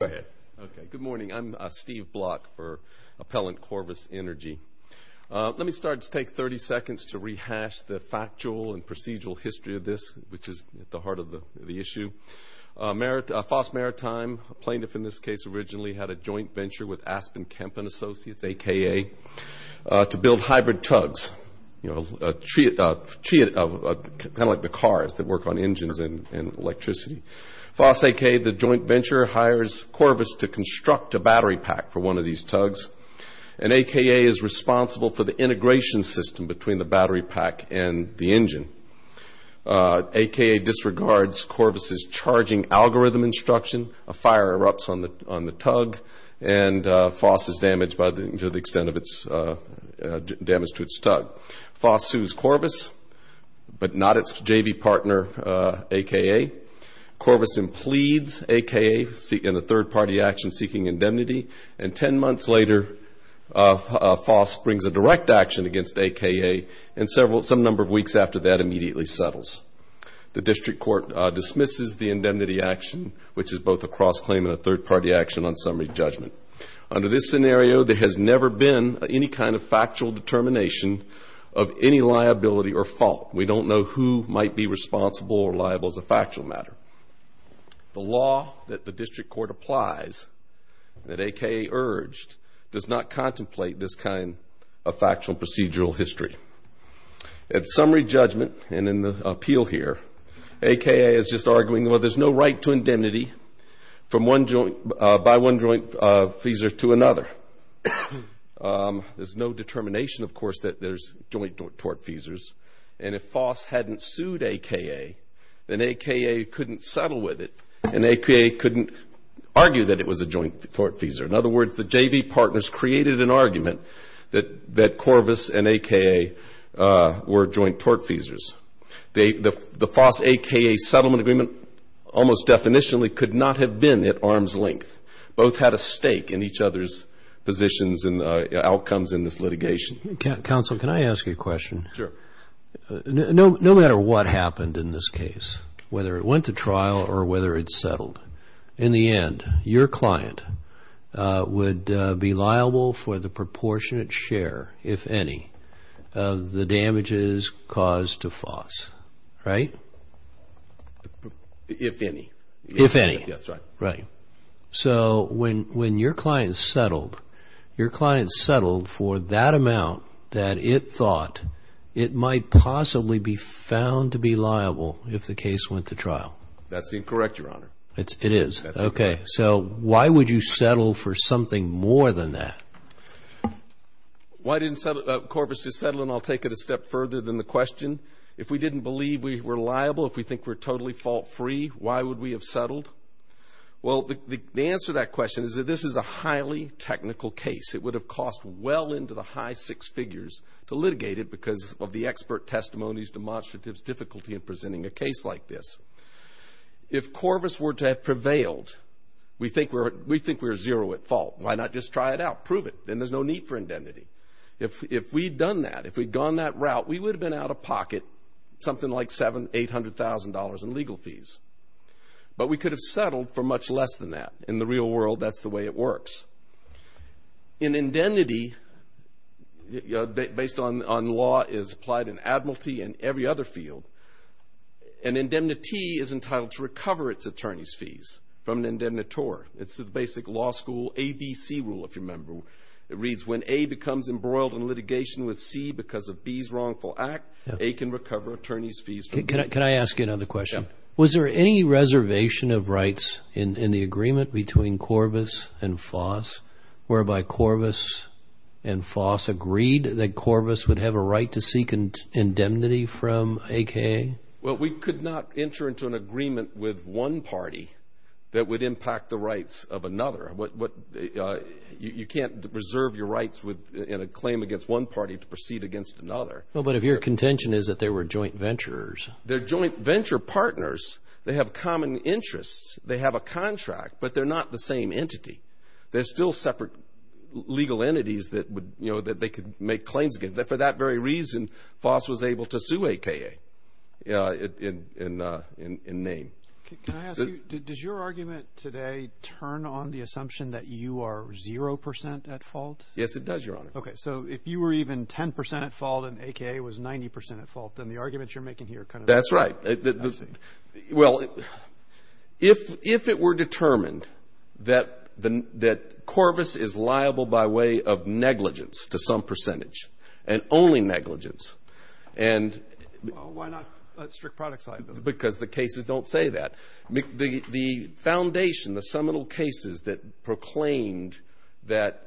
Okay, good morning. I'm Steve Block for Appellant Corvus Energy. Let me start to take 30 seconds to rehash the factual and procedural history of this, which is at the heart of the issue. Foss Maritime, a plaintiff in this case originally, had a joint venture with Aspen Kemp & Associates, a.k.a., to build hybrid tugs, kind of like the cars that work on engines and electricity. Foss, a.k.a., the joint venture, hires Corvus to construct a battery pack for one of these tugs, and a.k.a. is responsible for the integration system between the battery pack and the engine. a.k.a. disregards Corvus's charging algorithm instruction. A fire erupts on the tug, and Foss is damaged to the extent of its damage to its tug. Foss sues Corvus, but not its JV partner, a.k.a. Corvus pleads a.k.a. in a third-party action seeking indemnity, and 10 months later Foss brings a direct action against a.k.a. and some number of weeks after that immediately settles. The district court dismisses the indemnity action, which is both a cross-claim and a third-party action on summary judgment. Under this scenario, there has never been any kind of factual determination of any liability or fault. We don't know who might be responsible or liable as a factual matter. The law that the district court applies that a.k.a. urged does not contemplate this kind of factual procedural history. At summary judgment, and in the appeal here, a.k.a. is just arguing, well, there's no right to indemnity by one joint feeser to another. There's no determination, of course, that there's joint tort feesers, and if Foss hadn't sued a.k.a., then a.k.a. couldn't settle with it and a.k.a. couldn't argue that it was a joint tort feeser. In other words, the JV partners created an argument that Corvus and a.k.a. were joint tort feesers. The Foss a.k.a. settlement agreement almost definitionally could not have been at arm's length. Both had a stake in each other's positions and outcomes in this litigation. Counsel, can I ask you a question? Sure. No matter what happened in this case, whether it went to trial or whether it settled, in the end, your client would be liable for the proportionate share, if any, of the damages caused to Foss, right? If any. If any. That's right. Right. So when your client settled, your client settled for that amount that it thought it might possibly be found to be liable if the case went to trial. That's incorrect, Your Honor. It is? That's incorrect. Okay. So why would you settle for something more than that? Why didn't Corvus just settle, and I'll take it a step further than the question. If we didn't believe we were liable, if we think we're totally fault-free, why would we have settled? Well, the answer to that question is that this is a highly technical case. It would have cost well into the high six figures to litigate it because of the expert testimonies, demonstratives, difficulty in presenting a case like this. If Corvus were to have prevailed, we think we're zero at fault. Why not just try it out? Prove it. Then there's no need for indemnity. If we'd done that, if we'd gone that route, we would have been out of pocket, something like $700,000, $800,000 in legal fees. But we could have settled for much less than that. In the real world, that's the way it works. An indemnity, based on law, is applied in admiralty and every other field. An indemnity is entitled to recover its attorney's fees from an indemnitor. It's the basic law school ABC rule, if you remember. It reads, when A becomes embroiled in litigation with C because of B's wrongful act, A can recover attorney's fees from B. Can I ask you another question? Yeah. Was there any reservation of rights in the agreement between Corvus and Foss, whereby Corvus and Foss agreed that Corvus would have a right to seek indemnity from AKA? Well, we could not enter into an agreement with one party that would impact the rights of another. You can't reserve your rights in a claim against one party to proceed against another. Well, but if your contention is that they were joint venturers. They're joint venture partners. They have common interests. They have a contract, but they're not the same entity. They're still separate legal entities that they could make claims against. For that very reason, Foss was able to sue AKA in name. Can I ask you, does your argument today turn on the assumption that you are 0% at fault? Yes, it does, Your Honor. Okay. So if you were even 10% at fault and AKA was 90% at fault, then the arguments you're making here kind of... That's right. Well, if it were determined that Corvus is liable by way of negligence to some percentage and only negligence and... Well, why not a strict product side? Because the cases don't say that. The foundation, the seminal cases that proclaimed that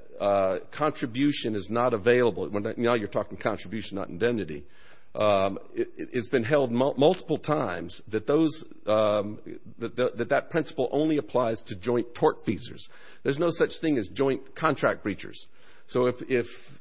contribution is not available... Now you're talking contribution, not identity. It's been held multiple times that that principle only applies to joint tort feasors. There's no such thing as joint contract breachers. So if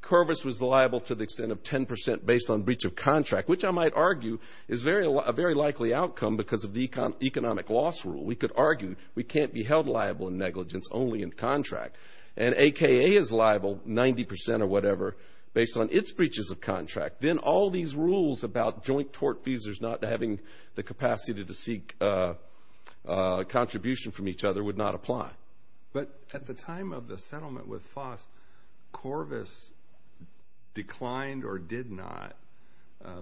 Corvus was liable to the extent of 10% based on breach of contract, which I might argue is a very likely outcome because of the economic loss rule. We could argue we can't be held liable in negligence only in contract. And AKA is liable 90% or whatever based on its breaches of contract. Then all these rules about joint tort feasors not having the capacity to seek contribution from each other would not apply. But at the time of the settlement with FOSS, Corvus declined or did not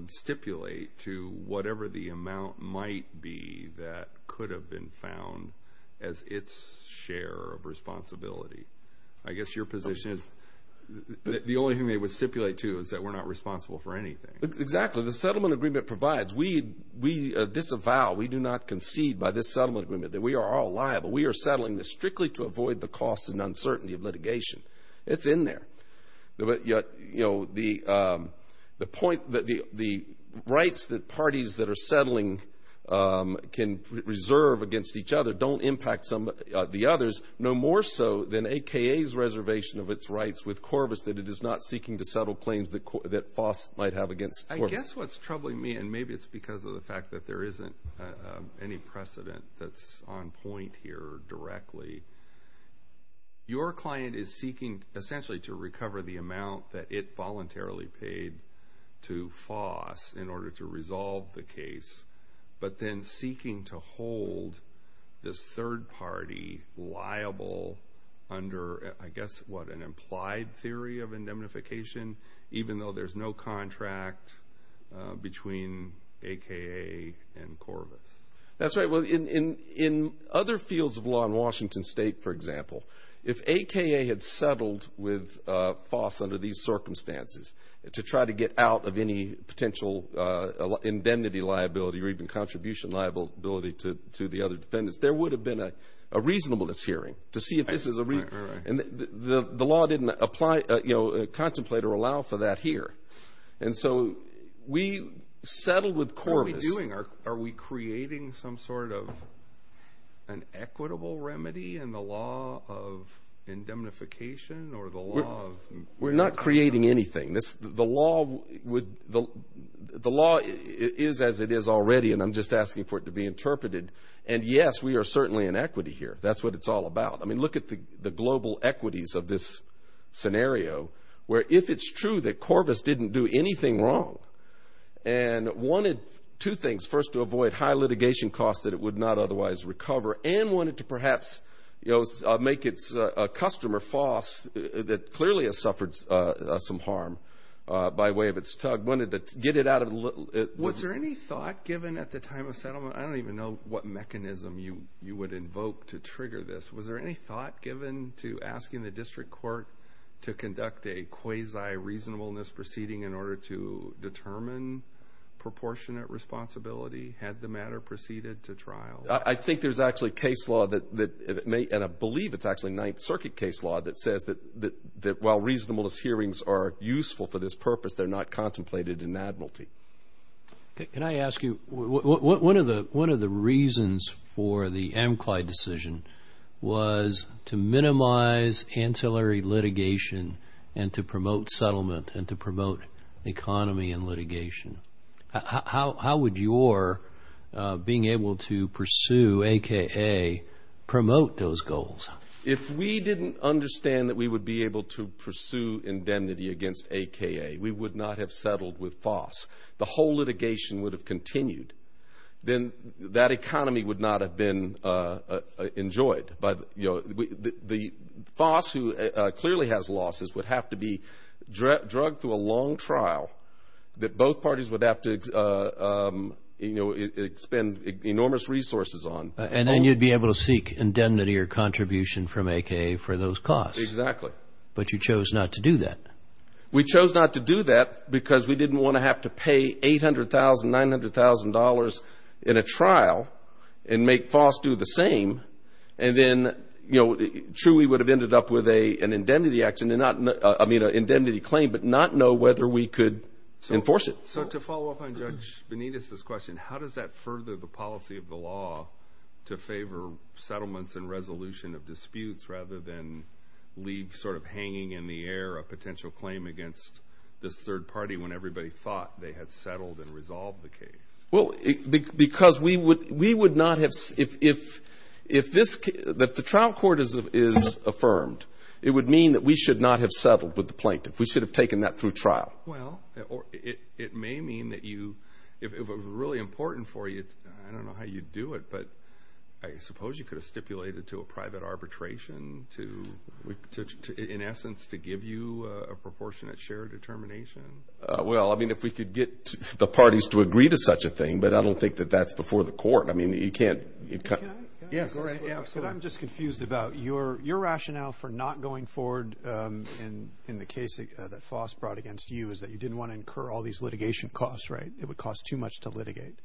stipulate to whatever the amount might be that could have been found as its share of responsibility. I guess your position is the only thing they would stipulate to is that we're not responsible for anything. Exactly. The settlement agreement provides we disavow, we do not concede by this settlement agreement that we are all liable. We are settling this strictly to avoid the costs and uncertainty of litigation. It's in there. But, you know, the point that the rights that parties that are settling can reserve against each other don't impact the others, no more so than AKA's reservation of its rights with Corvus that it is not seeking to settle claims that FOSS might have against Corvus. I guess what's troubling me, and maybe it's because of the fact that there isn't any precedent that's on point here directly, your client is seeking essentially to recover the amount that it voluntarily paid to FOSS in order to resolve the case, but then seeking to hold this third party liable under, I guess, what, an implied theory of indemnification, even though there's no contract between AKA and Corvus? That's right. Well, in other fields of law in Washington State, for example, if AKA had settled with FOSS under these circumstances to try to get out of any potential indemnity liability or even contribution liability to the other defendants, there would have been a reasonableness hearing to see if this is a reason. Right, right, right. And the law didn't apply, you know, contemplate or allow for that here. And so we settled with Corvus. So what are we doing? Are we creating some sort of an equitable remedy in the law of indemnification or the law of— We're not creating anything. The law is as it is already, and I'm just asking for it to be interpreted. And, yes, we are certainly in equity here. That's what it's all about. I mean, look at the global equities of this scenario where if it's true that Corvus didn't do anything wrong and wanted two things, first, to avoid high litigation costs that it would not otherwise recover and wanted to perhaps, you know, make its customer, FOSS, that clearly has suffered some harm by way of its tug, wanted to get it out of the— Was there any thought given at the time of settlement? I don't even know what mechanism you would invoke to trigger this. Was there any thought given to asking the district court to conduct a quasi-reasonableness proceeding in order to determine proportionate responsibility had the matter proceeded to trial? I think there's actually case law that—and I believe it's actually Ninth Circuit case law that says that while reasonableness hearings are useful for this purpose, they're not contemplated in admiralty. Can I ask you, one of the reasons for the Amcly decision was to minimize ancillary litigation and to promote settlement and to promote economy and litigation. How would your being able to pursue AKA promote those goals? If we didn't understand that we would be able to pursue indemnity against AKA, we would not have settled with FOSS, the whole litigation would have continued, then that economy would not have been enjoyed. But, you know, the FOSS, who clearly has losses, would have to be drugged through a long trial that both parties would have to, you know, expend enormous resources on. And then you'd be able to seek indemnity or contribution from AKA for those costs. Exactly. But you chose not to do that. We chose not to do that because we didn't want to have to pay $800,000, $900,000 in a trial and make FOSS do the same. And then, you know, truly we would have ended up with an indemnity claim but not know whether we could enforce it. So to follow up on Judge Benitez's question, how does that further the policy of the law to favor settlements and resolution of disputes rather than leave sort of hanging in the air a potential claim against this third party when everybody thought they had settled and resolved the case? Well, because we would not have, if this, that the trial court is affirmed, it would mean that we should not have settled with the plaintiff. We should have taken that through trial. Well, it may mean that you, if it were really important for you, I don't know how you'd do it, but I suppose you could have stipulated to a private arbitration to, in essence, to give you a proportionate share determination. Well, I mean, if we could get the parties to agree to such a thing, but I don't think that that's before the court. I mean, you can't. Yeah, go right ahead. I'm just confused about your rationale for not going forward in the case that FOSS brought against you is that you didn't want to incur all these litigation costs, right? It would cost too much to litigate.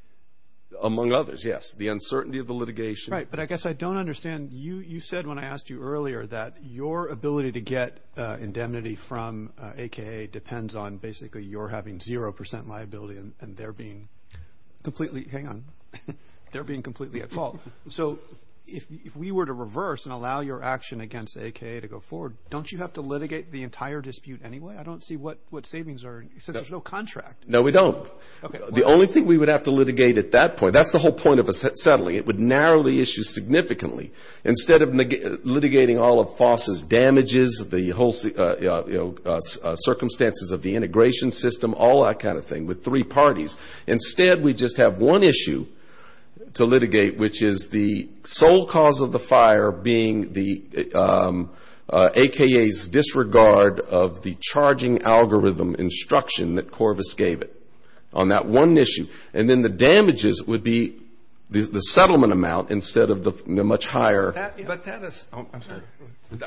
Among others, yes. The uncertainty of the litigation. Right, but I guess I don't understand. You said when I asked you earlier that your ability to get indemnity from AKA depends on basically you're having zero percent liability and they're being completely at fault. So if we were to reverse and allow your action against AKA to go forward, don't you have to litigate the entire dispute anyway? I don't see what savings are, since there's no contract. No, we don't. The only thing we would have to litigate at that point, that's the whole point of settling. It would narrow the issue significantly. Instead of litigating all of FOSS's damages, the circumstances of the integration system, all that kind of thing with three parties, instead we just have one issue to litigate, which is the sole cause of the fire being the AKA's disregard of the charging algorithm instruction that Corvus gave it on that one issue. And then the damages would be the settlement amount instead of the much higher. I'm sorry.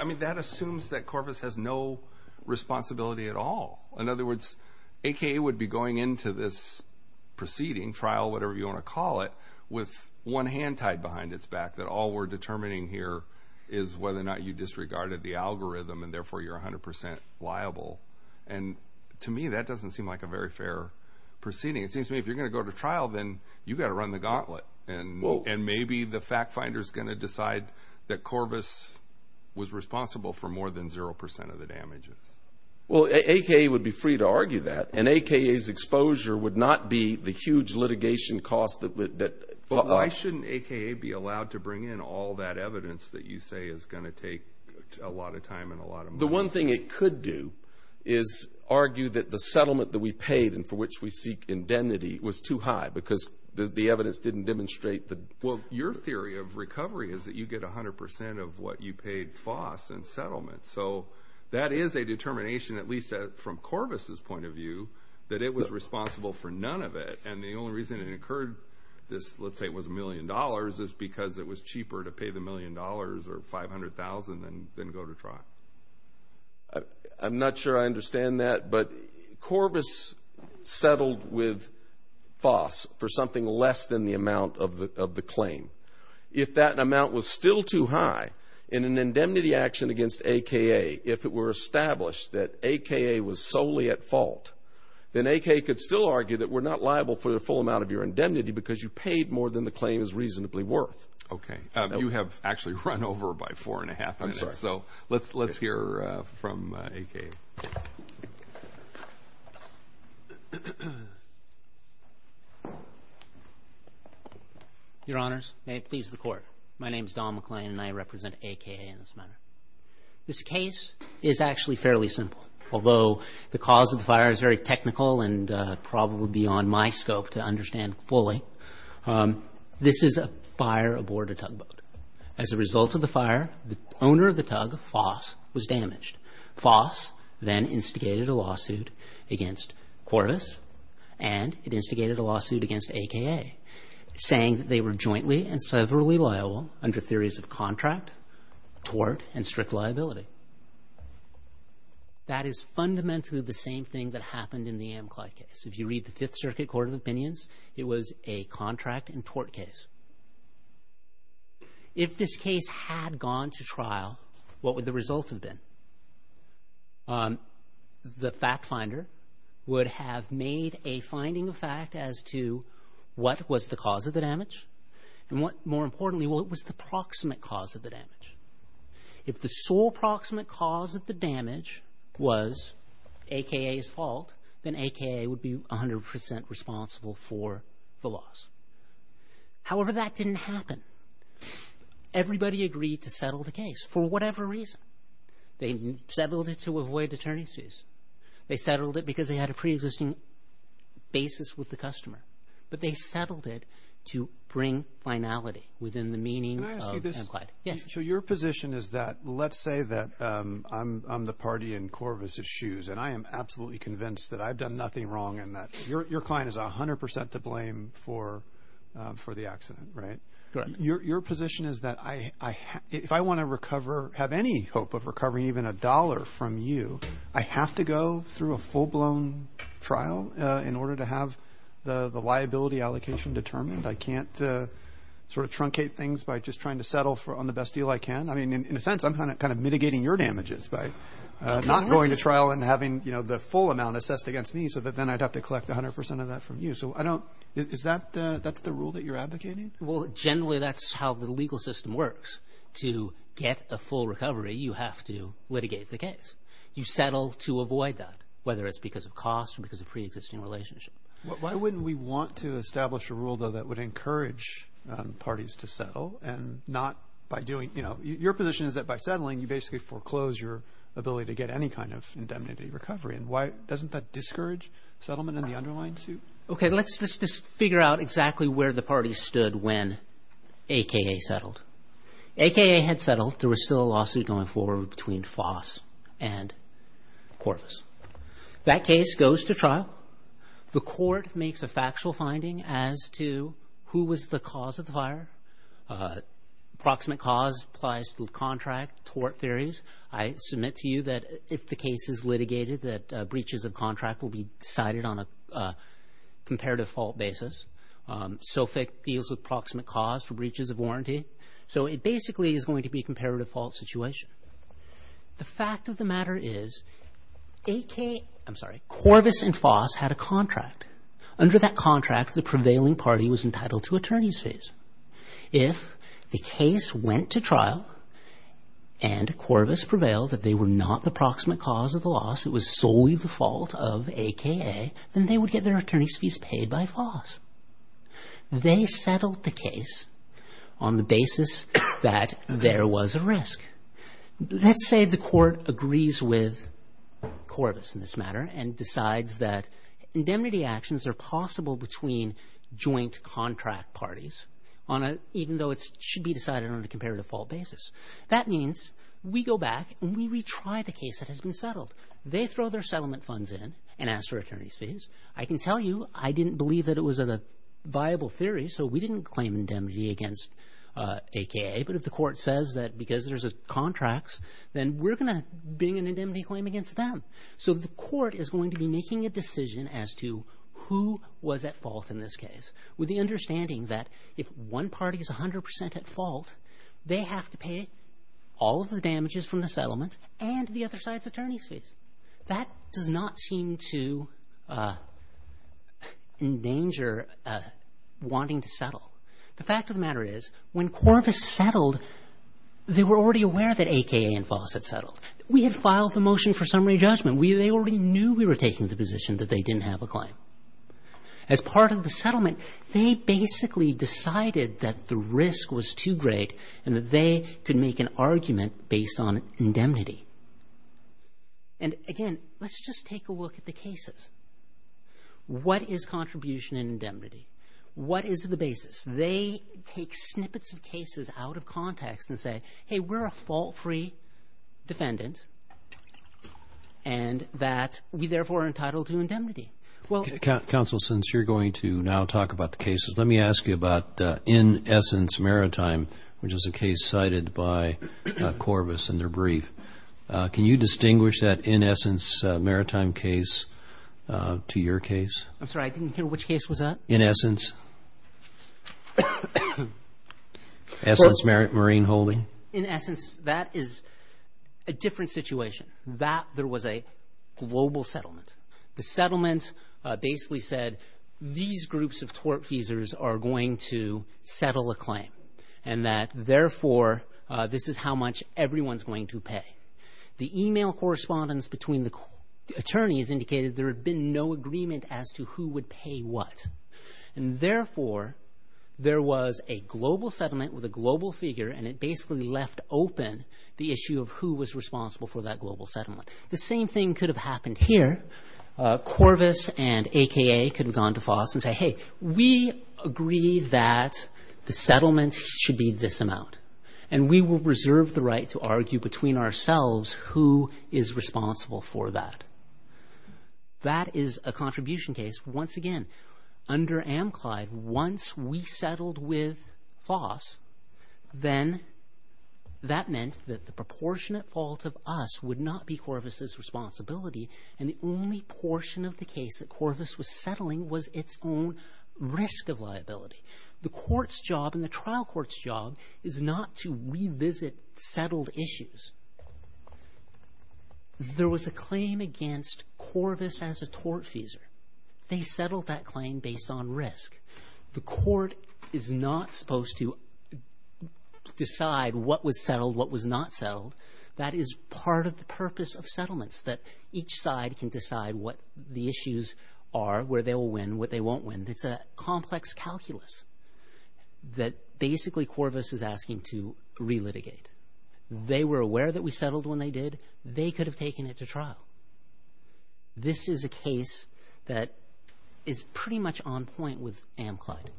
I mean, that assumes that Corvus has no responsibility at all. In other words, AKA would be going into this proceeding, trial, whatever you want to call it, with one hand tied behind its back, that all we're determining here is whether or not you disregarded the algorithm and therefore you're 100 percent liable. And to me, that doesn't seem like a very fair proceeding. It seems to me if you're going to go to trial, then you've got to run the gauntlet. And maybe the fact finder is going to decide that Corvus was responsible for more than 0 percent of the damages. Well, AKA would be free to argue that. And AKA's exposure would not be the huge litigation cost. But why shouldn't AKA be allowed to bring in all that evidence that you say is going to take a lot of time and a lot of money? Well, the one thing it could do is argue that the settlement that we paid and for which we seek indemnity was too high because the evidence didn't demonstrate that. Well, your theory of recovery is that you get 100 percent of what you paid FOSS in settlement. So that is a determination, at least from Corvus's point of view, that it was responsible for none of it. And the only reason it occurred, let's say it was a million dollars, is because it was cheaper to pay the million dollars or $500,000 than go to trial. I'm not sure I understand that, but Corvus settled with FOSS for something less than the amount of the claim. If that amount was still too high in an indemnity action against AKA, if it were established that AKA was solely at fault, then AKA could still argue that we're not liable for the full amount of your indemnity because you paid more than the claim is reasonably worth. Okay. You have actually run over by four and a half minutes. I'm sorry. So let's hear from AKA. Your Honors, may it please the Court, my name is Don McLean and I represent AKA in this matter. This case is actually fairly simple. Although the cause of the fire is very technical and probably beyond my scope to understand fully, this is a fire aboard a tugboat. As a result of the fire, the owner of the tug, FOSS, was damaged. FOSS then instigated a lawsuit against Corvus and it instigated a lawsuit against AKA, saying that they were jointly and severally liable under theories of contract, tort, and strict liability. That is fundamentally the same thing that happened in the Amcly case. If you read the Fifth Circuit Court of Opinions, it was a contract and tort case. If this case had gone to trial, what would the result have been? The fact finder would have made a finding of fact as to what was the cause of the damage and what, more importantly, what was the proximate cause of the damage. If the sole proximate cause of the damage was AKA's fault, then AKA would be 100% responsible for the loss. However, that didn't happen. Everybody agreed to settle the case for whatever reason. They settled it to avoid attorney's dues. They settled it because they had a preexisting basis with the customer. But they settled it to bring finality within the meaning of Amcly. Can I ask you this? Yes. So your position is that let's say that I'm the party in Corvus's shoes and I am absolutely convinced that I've done nothing wrong and that your client is 100% to blame for the accident, right? Your position is that if I want to have any hope of recovering even a dollar from you, I have to go through a full-blown trial in order to have the liability allocation determined? I can't sort of truncate things by just trying to settle on the best deal I can? In a sense, I'm kind of mitigating your damages by not going to trial and having the full amount assessed against me so that then I'd have to collect 100% of that from you. Is that the rule that you're advocating? Well, generally, that's how the legal system works. To get a full recovery, you have to litigate the case. You settle to avoid that, whether it's because of cost or because of preexisting relationship. Why wouldn't we want to establish a rule, though, that would encourage parties to settle and not by doing – your position is that by settling, you basically foreclose your ability to get any kind of indemnity recovery. Doesn't that discourage settlement in the underlying suit? Okay, let's just figure out exactly where the parties stood when AKA settled. AKA had settled. There was still a lawsuit going forward between FOSS and Corvus. That case goes to trial. The court makes a factual finding as to who was the cause of the fire. Approximate cause applies to the contract, tort theories. I submit to you that if the case is litigated, that breaches of contract will be decided on a comparative fault basis. SOFIC deals with approximate cause for breaches of warranty. So it basically is going to be a comparative fault situation. The fact of the matter is Corvus and FOSS had a contract. Under that contract, the prevailing party was entitled to attorney's fees. If the case went to trial and Corvus prevailed that they were not the approximate cause of the loss, it was solely the fault of AKA, then they would get their attorney's fees paid by FOSS. They settled the case on the basis that there was a risk. Let's say the court agrees with Corvus in this matter and decides that indemnity actions are possible between joint contract parties, even though it should be decided on a comparative fault basis. That means we go back and we retry the case that has been settled. They throw their settlement funds in and ask for attorney's fees. I can tell you I didn't believe that it was a viable theory, so we didn't claim indemnity against AKA, but if the court says that because there's contracts, then we're going to bring an indemnity claim against them. So the court is going to be making a decision as to who was at fault in this case, with the understanding that if one party is 100 percent at fault, they have to pay all of the damages from the settlement and the other side's attorney's fees. That does not seem to endanger wanting to settle. The fact of the matter is when Corvus settled, they were already aware that AKA and FOSS had settled. We had filed the motion for summary judgment. They already knew we were taking the position that they didn't have a claim. As part of the settlement, they basically decided that the risk was too great and that they could make an argument based on indemnity. And again, let's just take a look at the cases. What is contribution and indemnity? What is the basis? They take snippets of cases out of context and say, hey, we're a fault-free defendant and that we, therefore, are entitled to indemnity. Counsel, since you're going to now talk about the cases, let me ask you about In Essence Maritime, which is a case cited by Corvus in their brief. Can you distinguish that In Essence Maritime case to your case? I'm sorry, I didn't hear which case was that. In Essence. In Essence Marine Holding. In Essence, that is a different situation. That there was a global settlement. The settlement basically said these groups of tortfeasors are going to settle a claim and that, therefore, this is how much everyone's going to pay. The email correspondence between the attorneys indicated there had been no agreement as to who would pay what. And, therefore, there was a global settlement with a global figure and it basically left open the issue of who was responsible for that global settlement. The same thing could have happened here. Corvus and AKA could have gone to FOSS and said, hey, we agree that the settlement should be this amount and we will reserve the right to argue between ourselves who is responsible for that. That is a contribution case. Once again, under Amclyde, once we settled with FOSS, then that meant that the proportionate fault of us would not be Corvus's responsibility and the only portion of the case that Corvus was settling was its own risk of liability. The court's job and the trial court's job is not to revisit settled issues. There was a claim against Corvus as a tortfeasor. They settled that claim based on risk. The court is not supposed to decide what was settled, what was not settled. That is part of the purpose of settlements, that each side can decide what the issues are, where they will win, what they won't win. It's a complex calculus that basically Corvus is asking to relitigate. They were aware that we settled when they did. They could have taken it to trial. This is a case that is pretty much on point with Amclyde.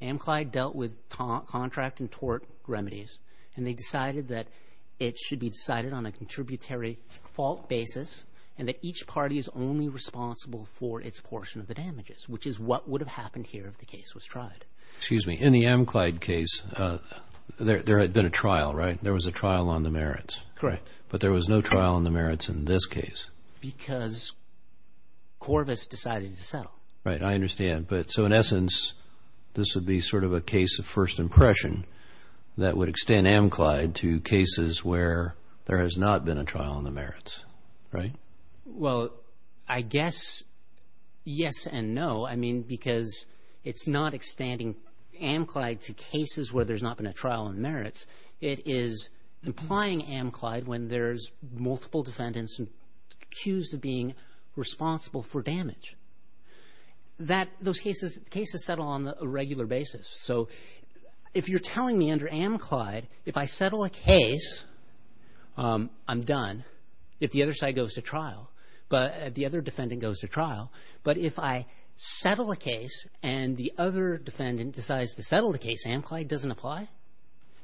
Amclyde dealt with contract and tort remedies and they decided that it should be decided on a contributory fault basis and that each party is only responsible for its portion of the damages, which is what would have happened here if the case was tried. Excuse me. In the Amclyde case, there had been a trial, right? There was a trial on the merits. Correct. But there was no trial on the merits in this case. Because Corvus decided to settle. Right. I understand. So in essence, this would be sort of a case of first impression that would extend Amclyde to cases where there has not been a trial on the merits, right? Well, I guess yes and no. I mean, because it's not extending Amclyde to cases where there's not been a trial on merits. It is implying Amclyde when there's multiple defendants accused of being responsible for damage. Those cases settle on a regular basis. So if you're telling me under Amclyde, if I settle a case, I'm done. If the other side goes to trial, the other defendant goes to trial. But if I settle a case and the other defendant decides to settle the case, Amclyde doesn't apply,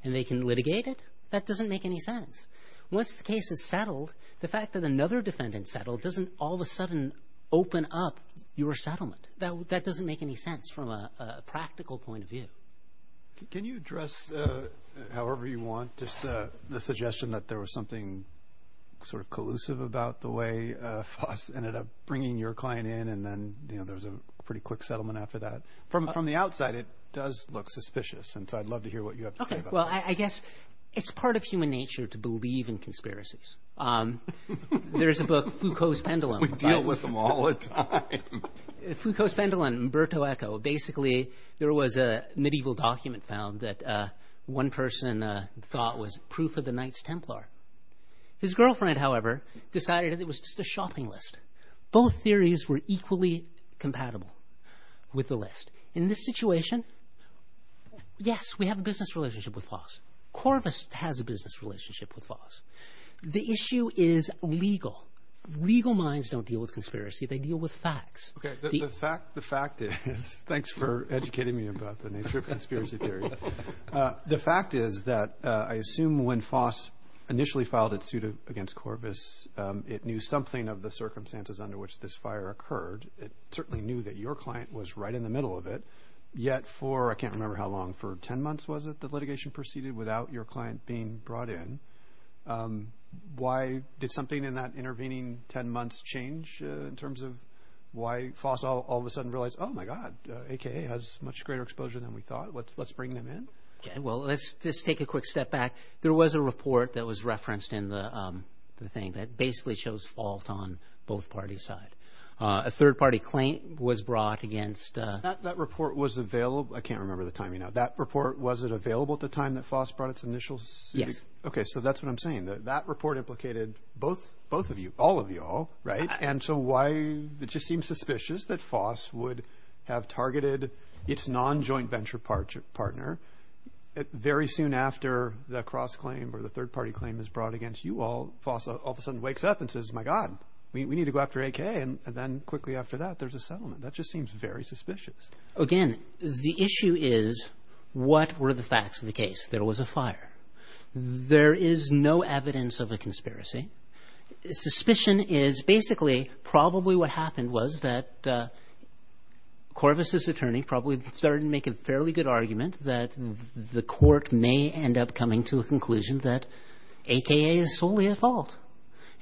and they can litigate it, that doesn't make any sense. Once the case is settled, the fact that another defendant settled doesn't all of a sudden open up your settlement. That doesn't make any sense from a practical point of view. Can you address, however you want, just the suggestion that there was something sort of collusive about the way FOSS ended up bringing your client in, and then there was a pretty quick settlement after that? From the outside, it does look suspicious, and so I'd love to hear what you have to say about that. Okay, well, I guess it's part of human nature to believe in conspiracies. There's a book, Foucault's Pendulum. We deal with them all the time. Foucault's Pendulum, Umberto Eco. Basically, there was a medieval document found that one person thought was proof of the Knights Templar. His girlfriend, however, decided it was just a shopping list. Both theories were equally compatible with the list. In this situation, yes, we have a business relationship with FOSS. Corvus has a business relationship with FOSS. The issue is legal. Legal minds don't deal with conspiracy. They deal with facts. Okay, the fact is, thanks for educating me about the nature of conspiracy theory. The fact is that I assume when FOSS initially filed its suit against Corvus, it knew something of the circumstances under which this fire occurred. It certainly knew that your client was right in the middle of it, yet for, I can't remember how long, for 10 months was it that litigation proceeded without your client being brought in? Why did something in that intervening 10 months change in terms of why FOSS all of a sudden realized, oh, my God, AKA has much greater exposure than we thought. Let's bring them in. Okay, well, let's just take a quick step back. There was a report that was referenced in the thing that basically shows fault on both parties' side. A third-party claim was brought against. That report was available. I can't remember the timing now. That report, was it available at the time that FOSS brought its initial suit? Yes. Okay, so that's what I'm saying. That report implicated both of you, all of you all, right? And so why it just seems suspicious that FOSS would have targeted its non-joint venture partner very soon after the cross-claim or the third-party claim is brought against you all. FOSS all of a sudden wakes up and says, my God, we need to go after AKA. And then quickly after that, there's a settlement. That just seems very suspicious. Again, the issue is what were the facts of the case? There was a fire. There is no evidence of a conspiracy. Suspicion is basically probably what happened was that Corvus' attorney probably started making a fairly good argument that the court may end up coming to a conclusion that AKA is solely at fault,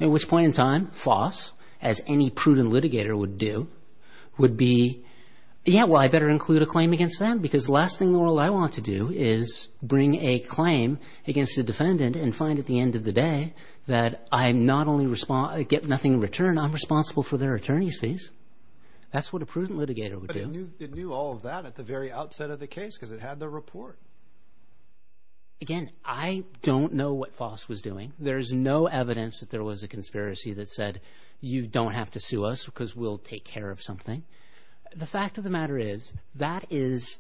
at which point in time, FOSS, as any prudent litigator would do, would be, yeah, well, I better include a claim against them because the last thing in the world I want to do is bring a claim against a defendant and find at the end of the day that I not only get nothing in return, I'm responsible for their attorney's fees. That's what a prudent litigator would do. But it knew all of that at the very outset of the case because it had the report. Again, I don't know what FOSS was doing. There's no evidence that there was a conspiracy that said, you don't have to sue us because we'll take care of something. The fact of the matter is that is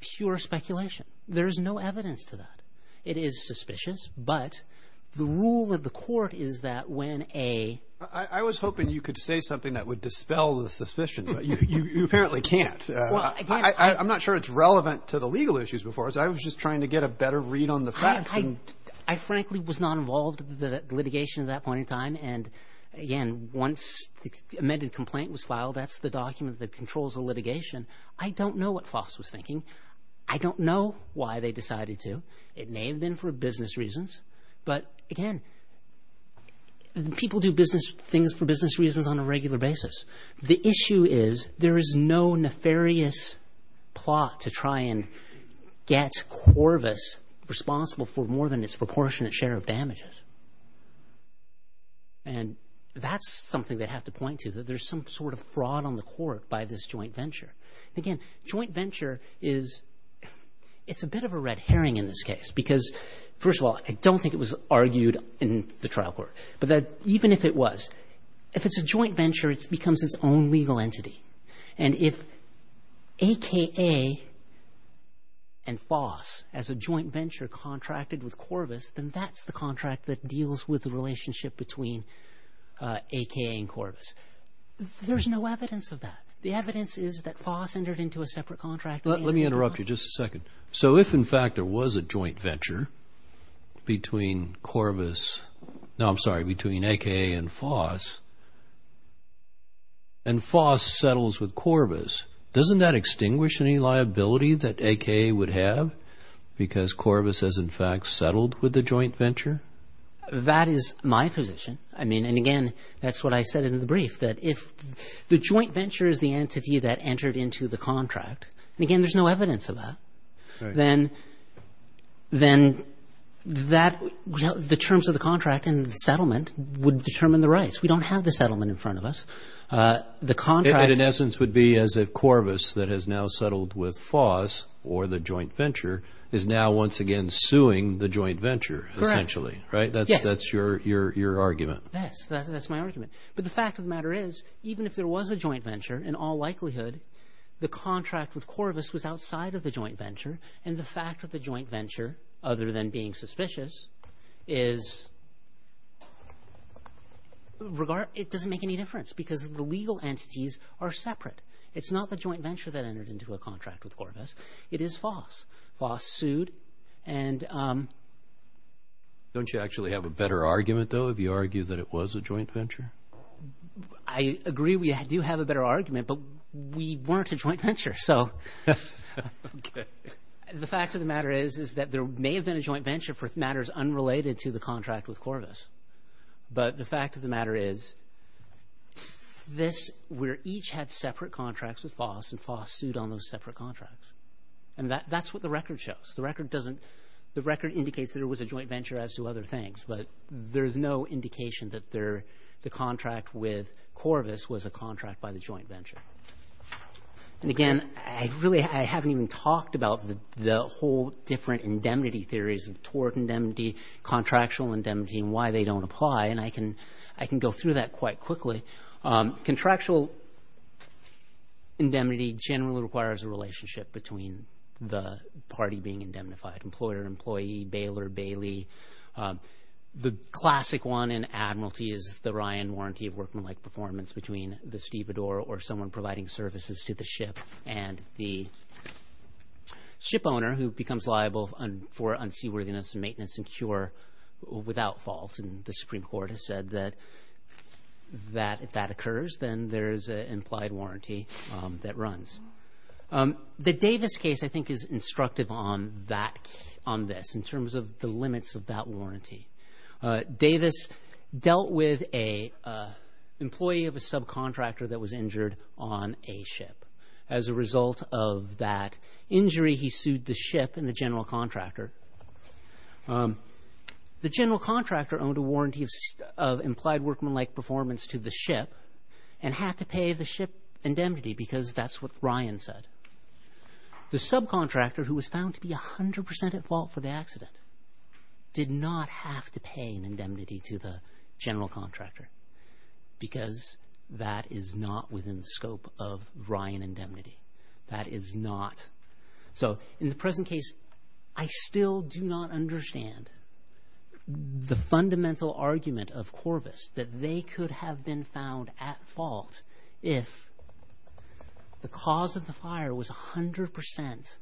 pure speculation. There's no evidence to that. It is suspicious, but the rule of the court is that when a I was hoping you could say something that would dispel the suspicion, but you apparently can't. I'm not sure it's relevant to the legal issues before us. I was just trying to get a better read on the facts. I frankly was not involved in the litigation at that point in time. And, again, once the amended complaint was filed, that's the document that controls the litigation. I don't know what FOSS was thinking. I don't know why they decided to. It may have been for business reasons. But, again, people do things for business reasons on a regular basis. The issue is there is no nefarious plot to try and get Corvus responsible for more than its proportionate share of damages. And that's something they have to point to, that there's some sort of fraud on the court by this joint venture. Again, joint venture is a bit of a red herring in this case because, first of all, I don't think it was argued in the trial court, but even if it was, if it's a joint venture, it becomes its own legal entity. And if AKA and FOSS, as a joint venture, contracted with Corvus, then that's the contract that deals with the relationship between AKA and Corvus. There's no evidence of that. The evidence is that FOSS entered into a separate contract. Let me interrupt you just a second. So if, in fact, there was a joint venture between AKA and FOSS and FOSS settles with Corvus, doesn't that extinguish any liability that AKA would have because Corvus has, in fact, settled with the joint venture? That is my position. And, again, that's what I said in the brief, that if the joint venture is the entity that entered into the contract, and, again, there's no evidence of that, then the terms of the contract and the settlement would determine the rights. We don't have the settlement in front of us. It, in essence, would be as if Corvus, that has now settled with FOSS or the joint venture, is now once again suing the joint venture, essentially, right? Yes. That's your argument. Yes, that's my argument. But the fact of the matter is, even if there was a joint venture, in all likelihood, the contract with Corvus was outside of the joint venture, and the fact of the joint venture, other than being suspicious, is it doesn't make any difference because the legal entities are separate. It's not the joint venture that entered into a contract with Corvus. It is FOSS. FOSS sued. Don't you actually have a better argument, though, if you argue that it was a joint venture? I agree we do have a better argument, but we weren't a joint venture, so the fact of the matter is that there may have been a joint venture for matters unrelated to the contract with Corvus, but the fact of the matter is we each had separate contracts with FOSS, and FOSS sued on those separate contracts, and that's what the record shows. The record indicates that it was a joint venture as to other things, but there's no indication that the contract with Corvus was a contract by the joint venture. Again, I haven't even talked about the whole different indemnity theories of tort indemnity, contractual indemnity, and why they don't apply, and I can go through that quite quickly. Contractual indemnity generally requires a relationship between the party being indemnified, employer, employee, bailer, bailee. The classic one in Admiralty is the Ryan Warranty of workmanlike performance between the stevedore or someone providing services to the ship and the ship owner who becomes liable for unseaworthiness and maintenance and cure without fault, and the Supreme Court has said that if that occurs, then there's an implied warranty that runs. The Davis case, I think, is instructive on this in terms of the limits of that warranty. Davis dealt with an employee of a subcontractor that was injured on a ship. As a result of that injury, he sued the ship and the general contractor. The general contractor owned a warranty of implied workmanlike performance to the ship and had to pay the ship indemnity because that's what Ryan said. The subcontractor, who was found to be 100% at fault for the accident, did not have to pay an indemnity to the general contractor because that is not within the scope of Ryan indemnity. That is not. So in the present case, I still do not understand the fundamental argument of Corvus that they could have been found at fault if the cause of the fire was 100%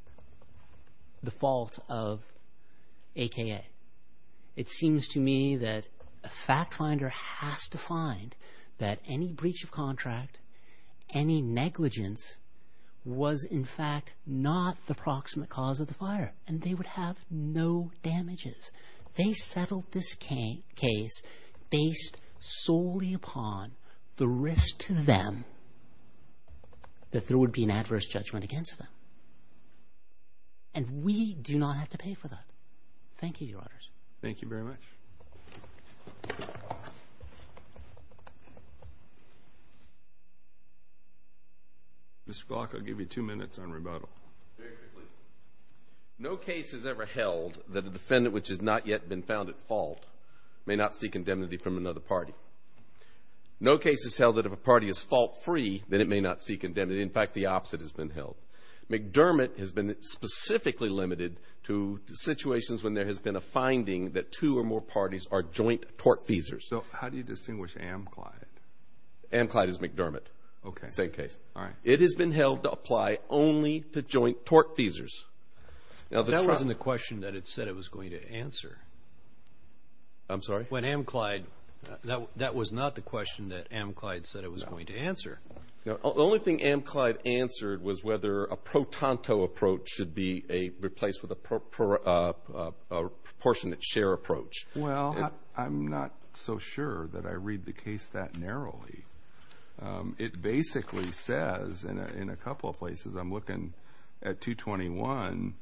the fault of AKA. It seems to me that a fact finder has to find that any breach of contract, any negligence was, in fact, not the proximate cause of the fire, and they would have no damages. They settled this case based solely upon the risk to them that there would be an adverse judgment against them, and we do not have to pay for that. Thank you, Your Honors. Thank you very much. Mr. Glock, I'll give you two minutes on rebuttal. Very quickly. No case has ever held that a defendant which has not yet been found at fault may not seek indemnity from another party. No case has held that if a party is fault-free, then it may not seek indemnity. In fact, the opposite has been held. McDermott has been specifically limited to situations when there has been a finding that two or more parties are joint tortfeasors. So how do you distinguish Amclyde? Amclyde is McDermott. Okay. Same case. All right. It has been held to apply only to joint tortfeasors. That wasn't the question that it said it was going to answer. I'm sorry? When Amclyde, that was not the question that Amclyde said it was going to answer. The only thing Amclyde answered was whether a pro tanto approach should be replaced with a proportionate share approach. Well, I'm not so sure that I read the case that narrowly. It basically says in a couple of places, I'm looking at 221,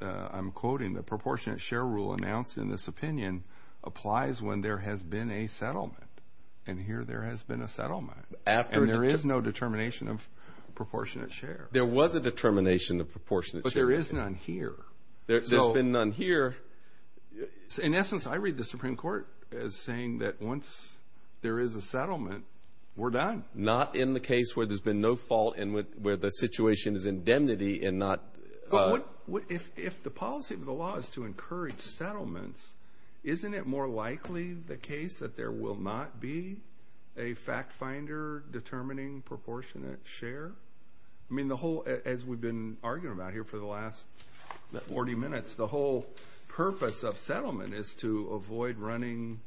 I'm quoting the proportionate share rule announced in this opinion applies when there has been a settlement. And here there has been a settlement. And there is no determination of proportionate share. There was a determination of proportionate share. But there is none here. There's been none here. In essence, I read the Supreme Court as saying that once there is a settlement, we're done. Not in the case where there's been no fault and where the situation is indemnity and not. Well, if the policy of the law is to encourage settlements, isn't it more likely the case that there will not be a fact finder determining proportionate share? I mean, the whole, as we've been arguing about here for the last 40 minutes, the whole purpose of settlement is to avoid running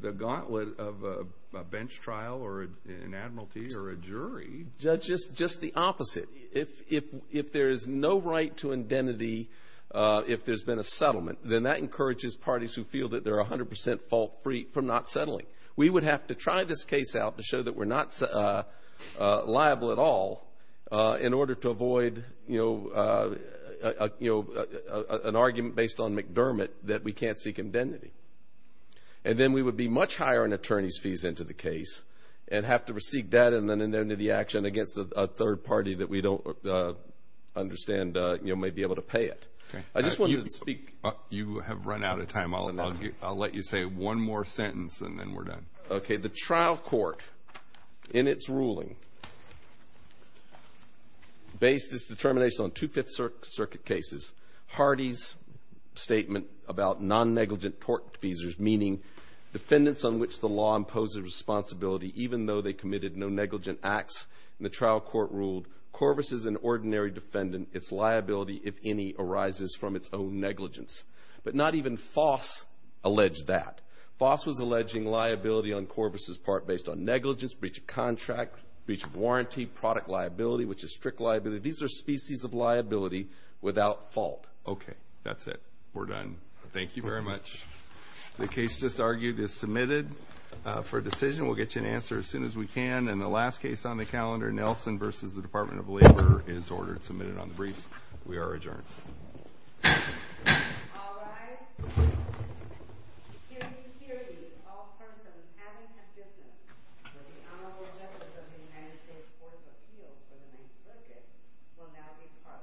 the gauntlet of a bench trial or an admiralty or a jury. Just the opposite. If there is no right to indemnity if there's been a settlement, then that encourages parties who feel that they're 100% fault free from not settling. We would have to try this case out to show that we're not liable at all in order to avoid, you know, an argument based on McDermott that we can't seek indemnity. And then we would be much higher in attorney's fees into the case and have to seek that and then indemnity action against a third party that we don't understand may be able to pay it. I just wanted to speak. You have run out of time. I'll let you say one more sentence and then we're done. Okay. The trial court in its ruling based its determination on two Fifth Circuit cases. Hardy's statement about non-negligent tort defeasors, meaning defendants on which the law imposes responsibility even though they committed no negligent acts in the trial court ruled, Corvus is an ordinary defendant. Its liability, if any, arises from its own negligence. But not even Foss alleged that. Foss was alleging liability on Corvus' part based on negligence, breach of contract, breach of warranty, product liability, which is strict liability. These are species of liability without fault. Okay. That's it. We're done. Thank you very much. The case just argued is submitted for decision. We'll get you an answer as soon as we can. And the last case on the calendar, Nelson v. Department of Labor, is ordered and submitted on the briefs. We are adjourned. All rise. Can we hear you, all persons having consistence that the Honorable Judge of the United States Court of Appeals for the Ninth Circuit will now depart.